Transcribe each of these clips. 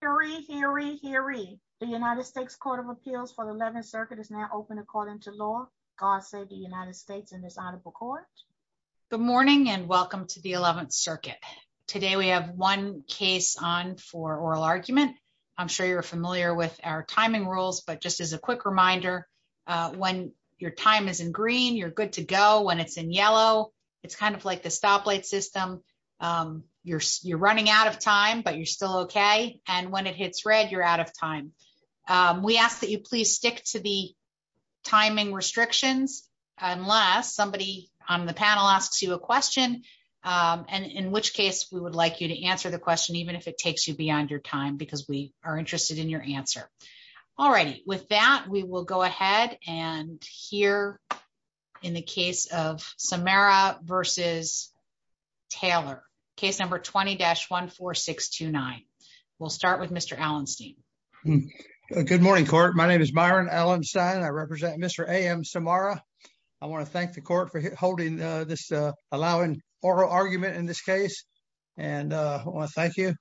Hear ye, hear ye, hear ye. The United States Court of Appeals for the 11th Circuit is now open according to law. God save the United States and this honorable court. Good morning and welcome to the 11th Circuit. Today we have one case on for oral argument. I'm sure you're familiar with our timing rules, but just as a quick reminder, when your time is in green, you're good to go. When it's in yellow, it's kind of like the stoplight system. You're running out of time, but you're still okay. And when it hits red, you're out of time. We ask that you please stick to the timing restrictions unless somebody on the panel asks you a question, in which case we would like you to answer the question even if it takes you beyond your time because we are interested in your answer. Alrighty, with that, we will go ahead and hear in the case of Samara v. Taylor, case number 20-14629. We'll start with Mr. Allenstein. Good morning, court. My name is Byron Allenstein. I represent Mr. A.M. Samara. I want to thank the court for holding this, allowing oral argument in this case, and I want to thank you.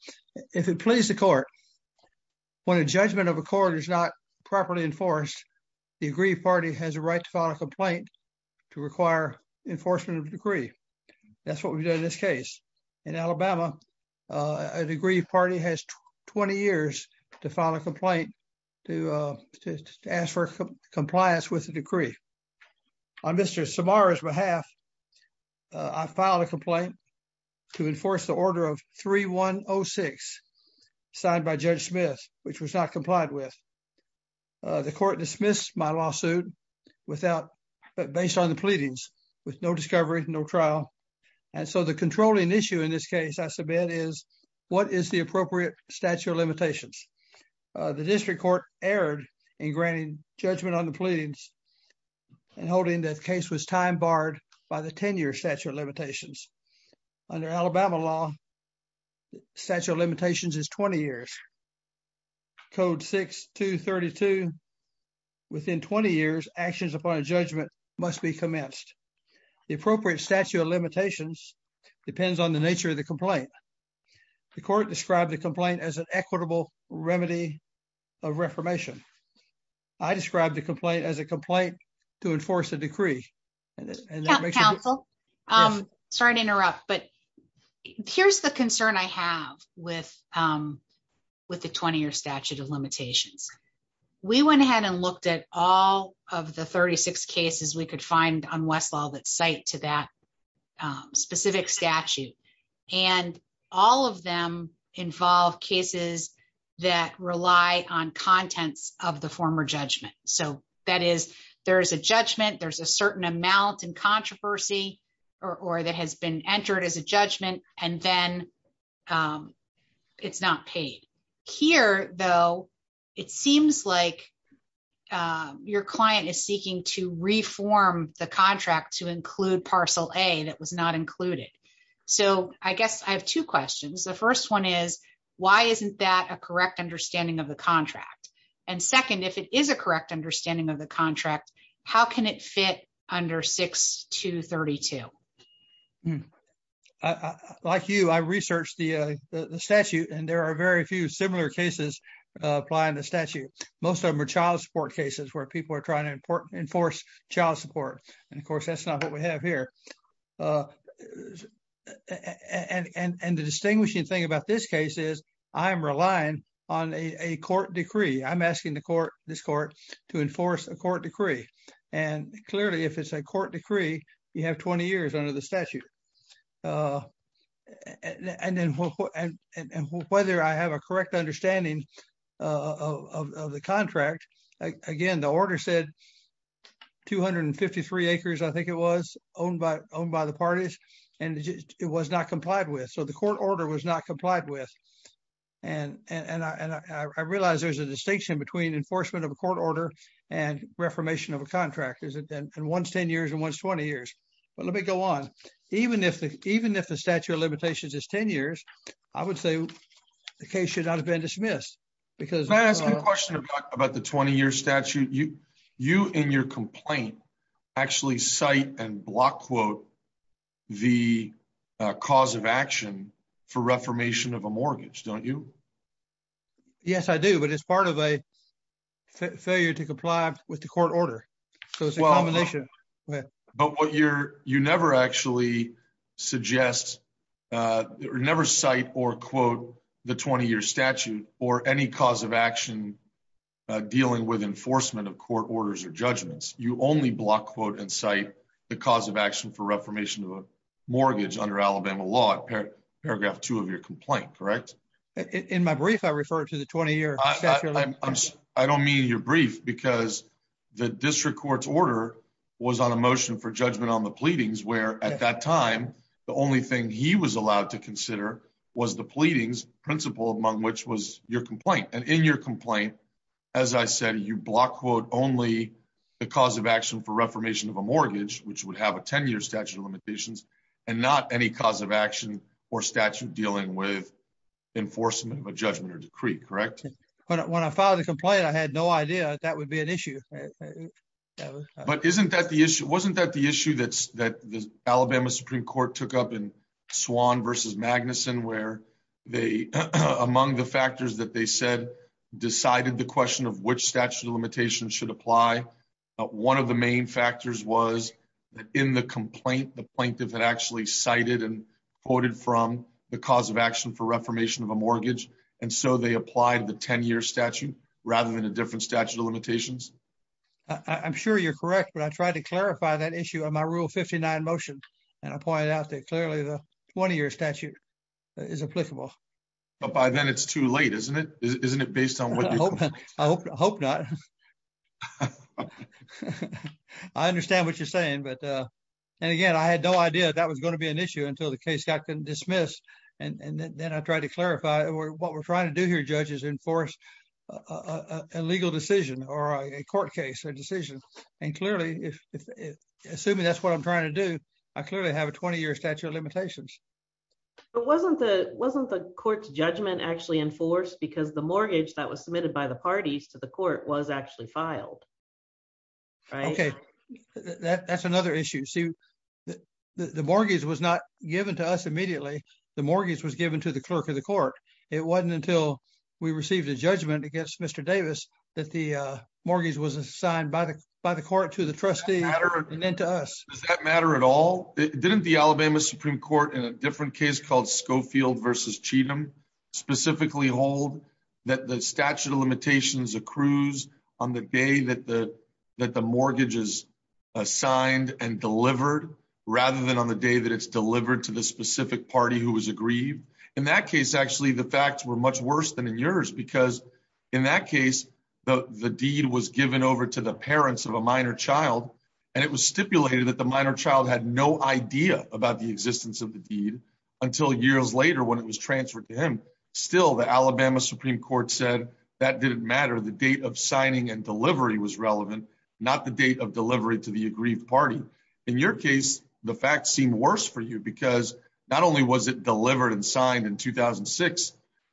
If it pleases the court, when a judgment of a court is not properly enforced, the agreed party has a right to file a complaint to require enforcement of the decree. That's what we've done in this case. In Alabama, a degree party has 20 years to file a complaint to ask for compliance with the decree. On Mr. Samara's behalf, I filed a complaint to enforce the order of 3106, signed by Judge Smith, which was not complied with. The court dismissed my lawsuit based on the pleadings with no discovery, no trial, and so the controlling issue in this case, I submit, is what is the appropriate statute of limitations. The district court erred in granting judgment on the pleadings and holding the case was time barred by the 10-year statute of limitations. Under Alabama law, the statute is 20 years. Code 6232, within 20 years, actions upon a judgment must be commenced. The appropriate statute of limitations depends on the nature of the complaint. The court described the complaint as an equitable remedy of reformation. I described the complaint as a complaint to enforce a decree. Counsel, sorry to interrupt, but here's the concern I have with the 20-year statute of limitations. We went ahead and looked at all of the 36 cases we could find on Westlaw that cite to that specific statute, and all of them involve cases that rely on contents of the former judgment, so that is, there is a judgment, there's a certain amount in controversy, or that has been entered as a judgment, and then it's not paid. Here, though, it seems like your client is seeking to reform the contract to include parcel A that was not included, so I guess I have two questions. The first one is, why isn't that a correct understanding of contract? And second, if it is a correct understanding of the contract, how can it fit under 6232? Like you, I researched the statute, and there are very few similar cases applying the statute. Most of them are child support cases where people are trying to enforce child support, and of course, that's not what we have here. And the distinguishing thing about this case is, I'm relying on a court decree. I'm asking the court, this court, to enforce a court decree, and clearly, if it's a court decree, you have 20 years under the statute. And whether I have a correct understanding of the contract, again, the order said 253 acres, I think it was, owned by the parties, and it was not complied with, so the court order was not complied with. And I realize there's a distinction between enforcement of a court order and reformation of a contract, and one's 10 years and one's 20 years. But let me go on. Even if the statute of limitations is 10 years, I would say the case should not have been dismissed, because- Can I ask you a question about the 20-year statute? You, in your complaint, actually cite and block quote the cause of action for reformation of a mortgage, don't you? Yes, I do, but it's part of a failure to comply with the court order. So it's a combination. But what you're, you never actually suggest, or never cite or quote the 20-year statute or any cause of action dealing with enforcement of court orders or judgments. You only block quote and cite the cause of action for reformation of a mortgage under Alabama law at paragraph two of your complaint, correct? In my brief, I refer to the 20-year statute. I don't mean your brief because the district court's order was on a motion for judgment on the pleadings, where at that time, the only thing he was allowed to consider was the pleadings principle among which was your complaint. And in your complaint, as I said, you block quote only the cause of action for reformation of a mortgage, which would have a 10-year statute of limitations, and not any cause of action or statute dealing with enforcement of a judgment or decree, correct? When I filed a complaint, I had no idea that that would be an issue. But isn't that the issue? Wasn't that the issue that Alabama Supreme Court took up in Swann versus Magnuson, where they, among the factors that they said, decided the question of which statute of limitations should apply. One of the main factors was that in the complaint, the plaintiff had actually cited and quoted from the cause of action for reformation of a mortgage. And so they applied the 10-year statute rather than a different statute of limitations. I'm sure you're correct, but I tried to clarify that issue on my Rule 59 motion, and I pointed out that clearly the 20-year statute is applicable. But by then it's too late, isn't it? Isn't it based on what you're saying? I hope not. I understand what you're saying. And again, I had no idea that was going to be issue until the case got dismissed. And then I tried to clarify what we're trying to do here, judges, enforce a legal decision or a court case or decision. And clearly, assuming that's what I'm trying to do, I clearly have a 20-year statute of limitations. But wasn't the court's judgment actually enforced because the mortgage that was submitted by the parties to the court was actually filed, right? That's another issue. The mortgage was not given to us immediately. The mortgage was given to the clerk of the court. It wasn't until we received a judgment against Mr. Davis that the mortgage was assigned by the court to the trustee and then to us. Does that matter at all? Didn't the Alabama Supreme Court in a different case called Schofield v. Cheatham specifically hold that the statute of limitations accrues on the day that the mortgage is assigned and delivered rather than on the day that it's delivered to the specific party who was aggrieved? In that case, actually, the facts were much worse than in yours because in that case, the deed was given over to the parents of a minor child. And it was stipulated that the minor child had no idea about the existence of the deed until years later when it was transferred to him. Still, the Alabama Supreme Court said that didn't matter. The date of signing and delivery was relevant, not the date of delivery to the aggrieved party. In your case, the facts seem worse for you because not only was it delivered and signed in 2006,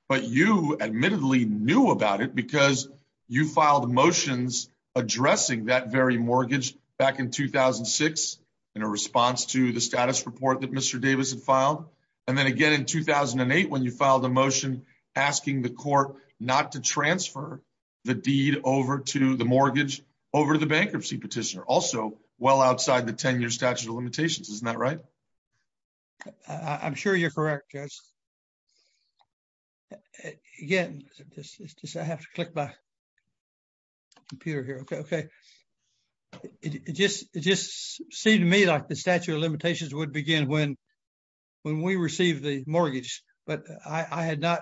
but you admittedly knew about it because you filed motions addressing that very mortgage back in 2006 in a response to the status report Mr. Davis had filed. And then again in 2008 when you filed a motion asking the court not to transfer the deed over to the mortgage over the bankruptcy petitioner, also well outside the 10 year statute of limitations. Isn't that right? I'm sure you're correct, Judge. Again, I have to click my computer here. Okay, okay. It just seemed to me like the statute of limitations would begin when we received the mortgage, but I had not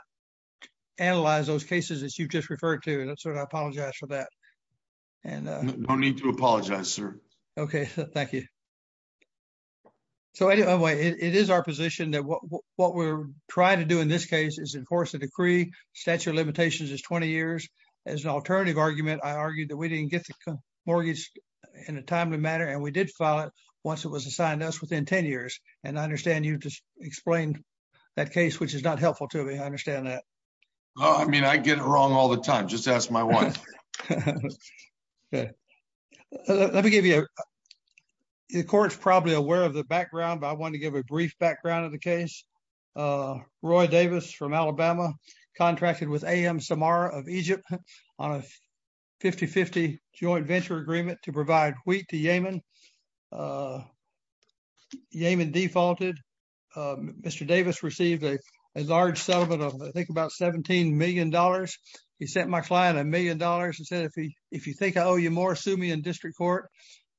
analyzed those cases that you've just referred to. And I apologize for that. No need to apologize, sir. Okay, thank you. So anyway, it is our position that what we're trying to do in this case is enforce a decree, statute of limitations is 20 years. As an alternative argument, I argued that we didn't get the mortgage in a timely manner, and we did file it once it was assigned to us within 10 years. And I understand you just explained that case, which is not helpful to me. I understand that. Well, I mean, I get it wrong all the time. Just ask my wife. Okay, let me give you, the court's probably aware of the background, but I want to give a AM Samara of Egypt on a 50-50 joint venture agreement to provide wheat to Yemen. Yemen defaulted. Mr. Davis received a large settlement of I think about $17 million. He sent my client $1 million and said, if you think I owe you more, sue me in district court.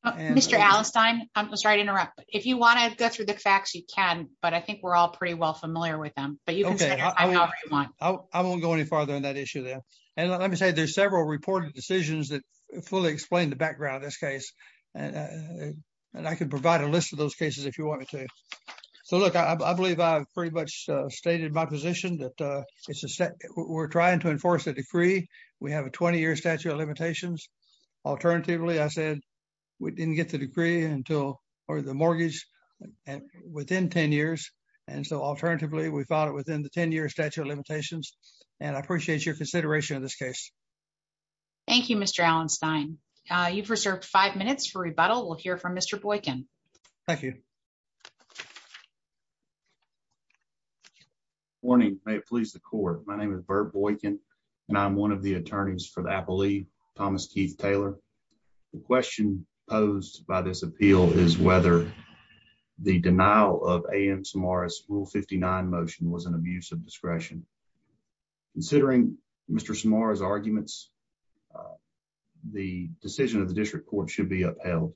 Mr. Allestine, I'm sorry to interrupt. If you want to go through the facts, you can, but I think we're all pretty well familiar with them. But you can say however you want. I won't go any farther on that issue there. And let me say there's several reported decisions that fully explain the background of this case. And I can provide a list of those cases if you wanted to. So look, I believe I've pretty much stated my position that we're trying to enforce a decree. We have a 20-year statute of limitations. Alternatively, I said, we didn't get the decree or the mortgage within 10 years. And so alternatively, we filed it within the 10-year statute of limitations. And I appreciate your consideration of this case. Thank you, Mr. Allestine. You've reserved five minutes for rebuttal. We'll hear from Mr. Boykin. Thank you. Morning. May it please the court. My name is Bert Boykin, and I'm one of the attorneys for the appellee, Thomas Keith Taylor. The question posed by this appeal is whether the denial of A.M. Samaras' Rule 59 motion was an abuse of discretion. Considering Mr. Samaras' arguments, the decision of the district court should be upheld.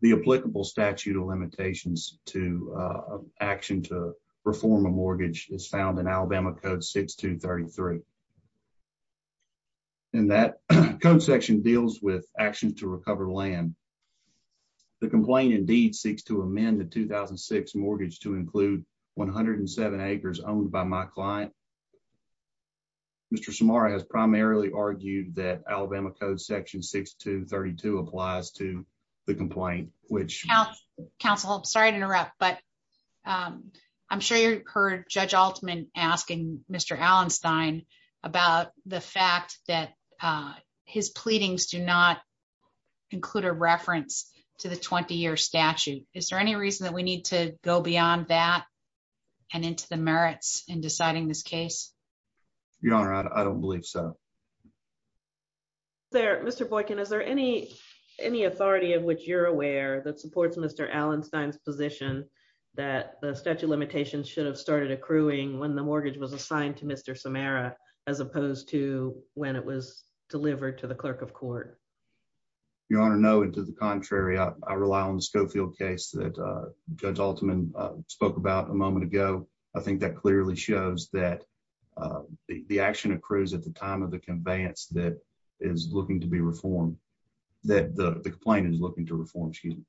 The applicable statute of limitations to action to reform a mortgage is found in Alabama Code 6233. And that code section deals with actions to recover land. The complaint indeed seeks to include 107 acres owned by my client. Mr. Samaras has primarily argued that Alabama Code Section 6232 applies to the complaint, which... Counsel, I'm sorry to interrupt, but I'm sure you heard Judge Altman asking Mr. Allestine about the fact that his pleadings do not include a reference to the 20-year statute. Is there any reason that we need to go beyond that and into the merits in deciding this case? Your Honor, I don't believe so. Mr. Boykin, is there any authority of which you're aware that supports Mr. Allestine's position that the statute of limitations should have started accruing when the mortgage was assigned to Mr. Samaras as opposed to when it was delivered to the clerk of court? Your Honor, no, and to the contrary. I rely on the Schofield case that Judge Altman spoke about a moment ago. I think that clearly shows that the action accrues at the time of the conveyance that is looking to be reformed, that the complaint is looking to reform. Excuse me.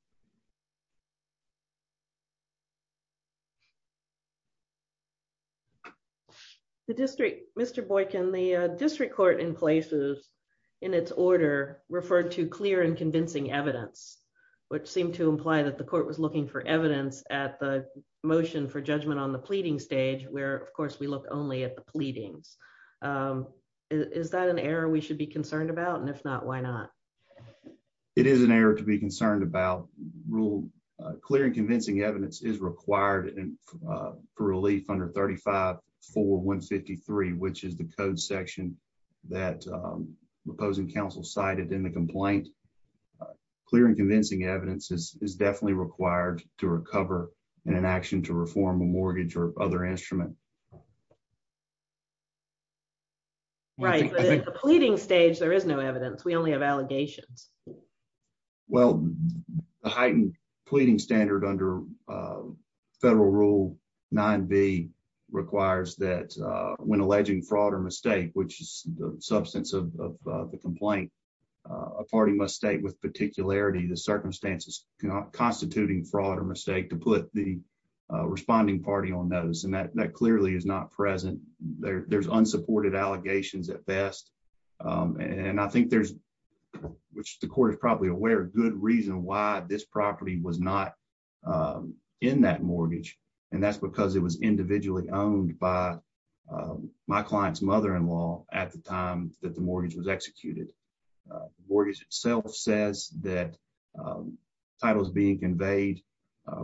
The district... Mr. Boykin, the district court in places in its order referred to clear and convincing evidence, which seemed to imply that the court was looking for evidence at the motion for judgment on the pleading stage where, of course, we look only at the pleadings. Is that an error we should be concerned about? And if not, why not? It is an error to be concerned about. Clear and convincing evidence is required for relief under 35-4-153, which is the code section that opposing counsel cited in the complaint. Clear and convincing evidence is definitely required to recover in an action to reform a mortgage or other instrument. Right, but at the pleading stage, there is no allegations. Well, the heightened pleading standard under Federal Rule 9b requires that when alleging fraud or mistake, which is the substance of the complaint, a party must state with particularity the circumstances constituting fraud or mistake to put the responding party on notice. And that clearly is not present. There's unsupported allegations at best. And I think there's, which the court is probably aware, a good reason why this property was not in that mortgage. And that's because it was individually owned by my client's mother-in-law at the time that the mortgage was executed. Mortgage itself says that title is being conveyed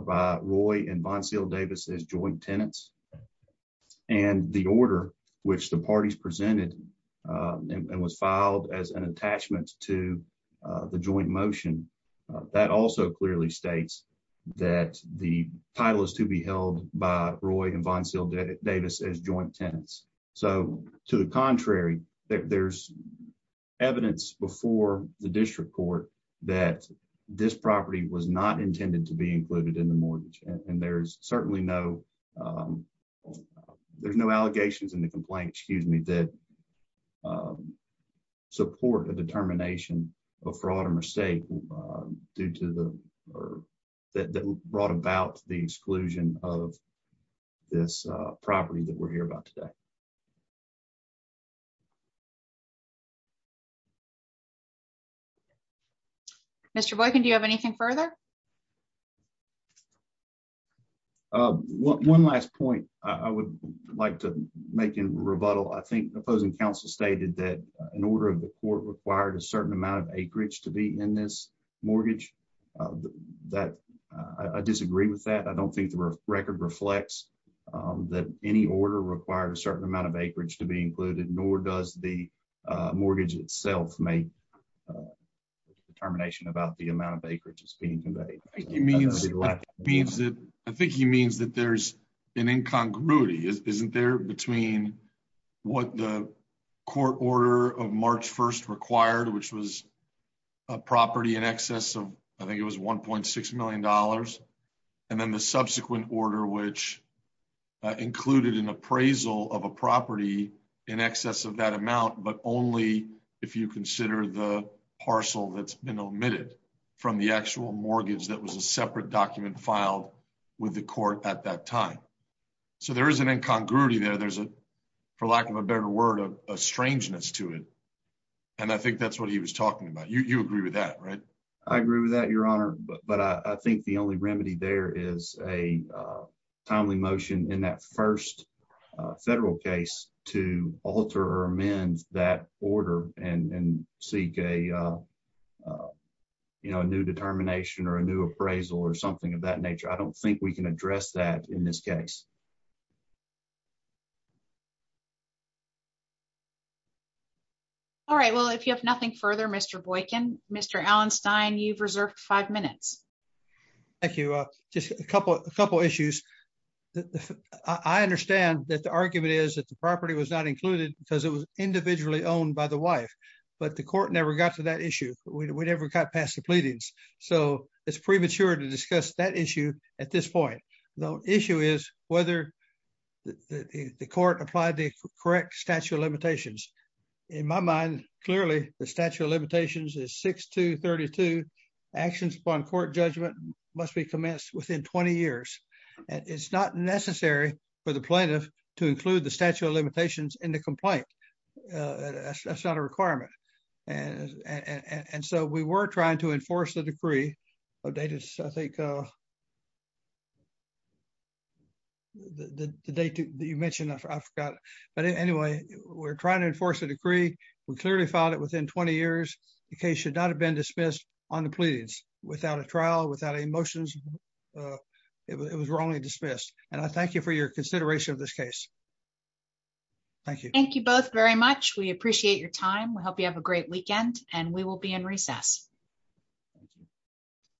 by Roy and Von Seal Davis as joint tenants. And the order which the parties presented and was filed as an attachment to the joint motion, that also clearly states that the title is to be held by Roy and Von Seal Davis as joint tenants. So, to the contrary, there's evidence before the district court that this property was not intended to be included in the mortgage. And there's certainly no, there's no allegations in the complaint, excuse me, that support a determination of fraud or mistake due to the, or that brought about the exclusion of this property that we're here about today. Mr. Boykin, do you have anything further? One last point I would like to make in rebuttal. I think the opposing counsel stated that an order of the court required a certain amount of acreage to be in this mortgage. That, I disagree with that. I don't think the record reflects that any order required a certain amount of acreage to be included, nor does the mortgage itself make a determination about the amount of acreage that's being conveyed. I think he means that there's an incongruity, isn't there, between what the court order of March 1st required, which was a property in excess of, I think it was $1.6 million, and then the subsequent order which included an appraisal of a property in excess of that amount, but only if you consider the parcel that's been omitted from the actual mortgage that was a separate document filed with the court at that time. So there is an incongruity there. There's a, for lack of a better word, a strangeness to it. And I think that's what he was talking about. You agree with that, right? I agree with that, Your Honor. But I think the only remedy there is a timely motion in that first federal case to alter or amend that order and seek a new determination or a new appraisal or something of that nature. I don't think we can address that in this case. All right. Well, if you have nothing further, Mr. Boykin, Mr. Allenstein, you've reserved five minutes. Thank you. Just a couple issues. I understand that the argument is that the property was not included because it was individually owned by the wife, but the court never got to that issue. We never got past the pleadings. So it's premature to discuss that issue at this point. The issue is whether the court applied the correct statute of limitations. In my mind, clearly, the statute of limitations is 6232. Actions upon court judgment must be commenced within 20 years. It's not necessary for the plaintiff to include the statute of limitations in the complaint. That's not a requirement. And so we were trying to enforce the decree. I think the date that you mentioned, I forgot. But anyway, we're trying to enforce the decree. We clearly filed it within 20 years. The case should not have been dismissed on the pleadings without a trial, without a motion. It was wrongly dismissed. And I thank you for your consideration of this case. Thank you. Thank you both very much. We appreciate your time. We hope you have a great weekend and we will be in recess.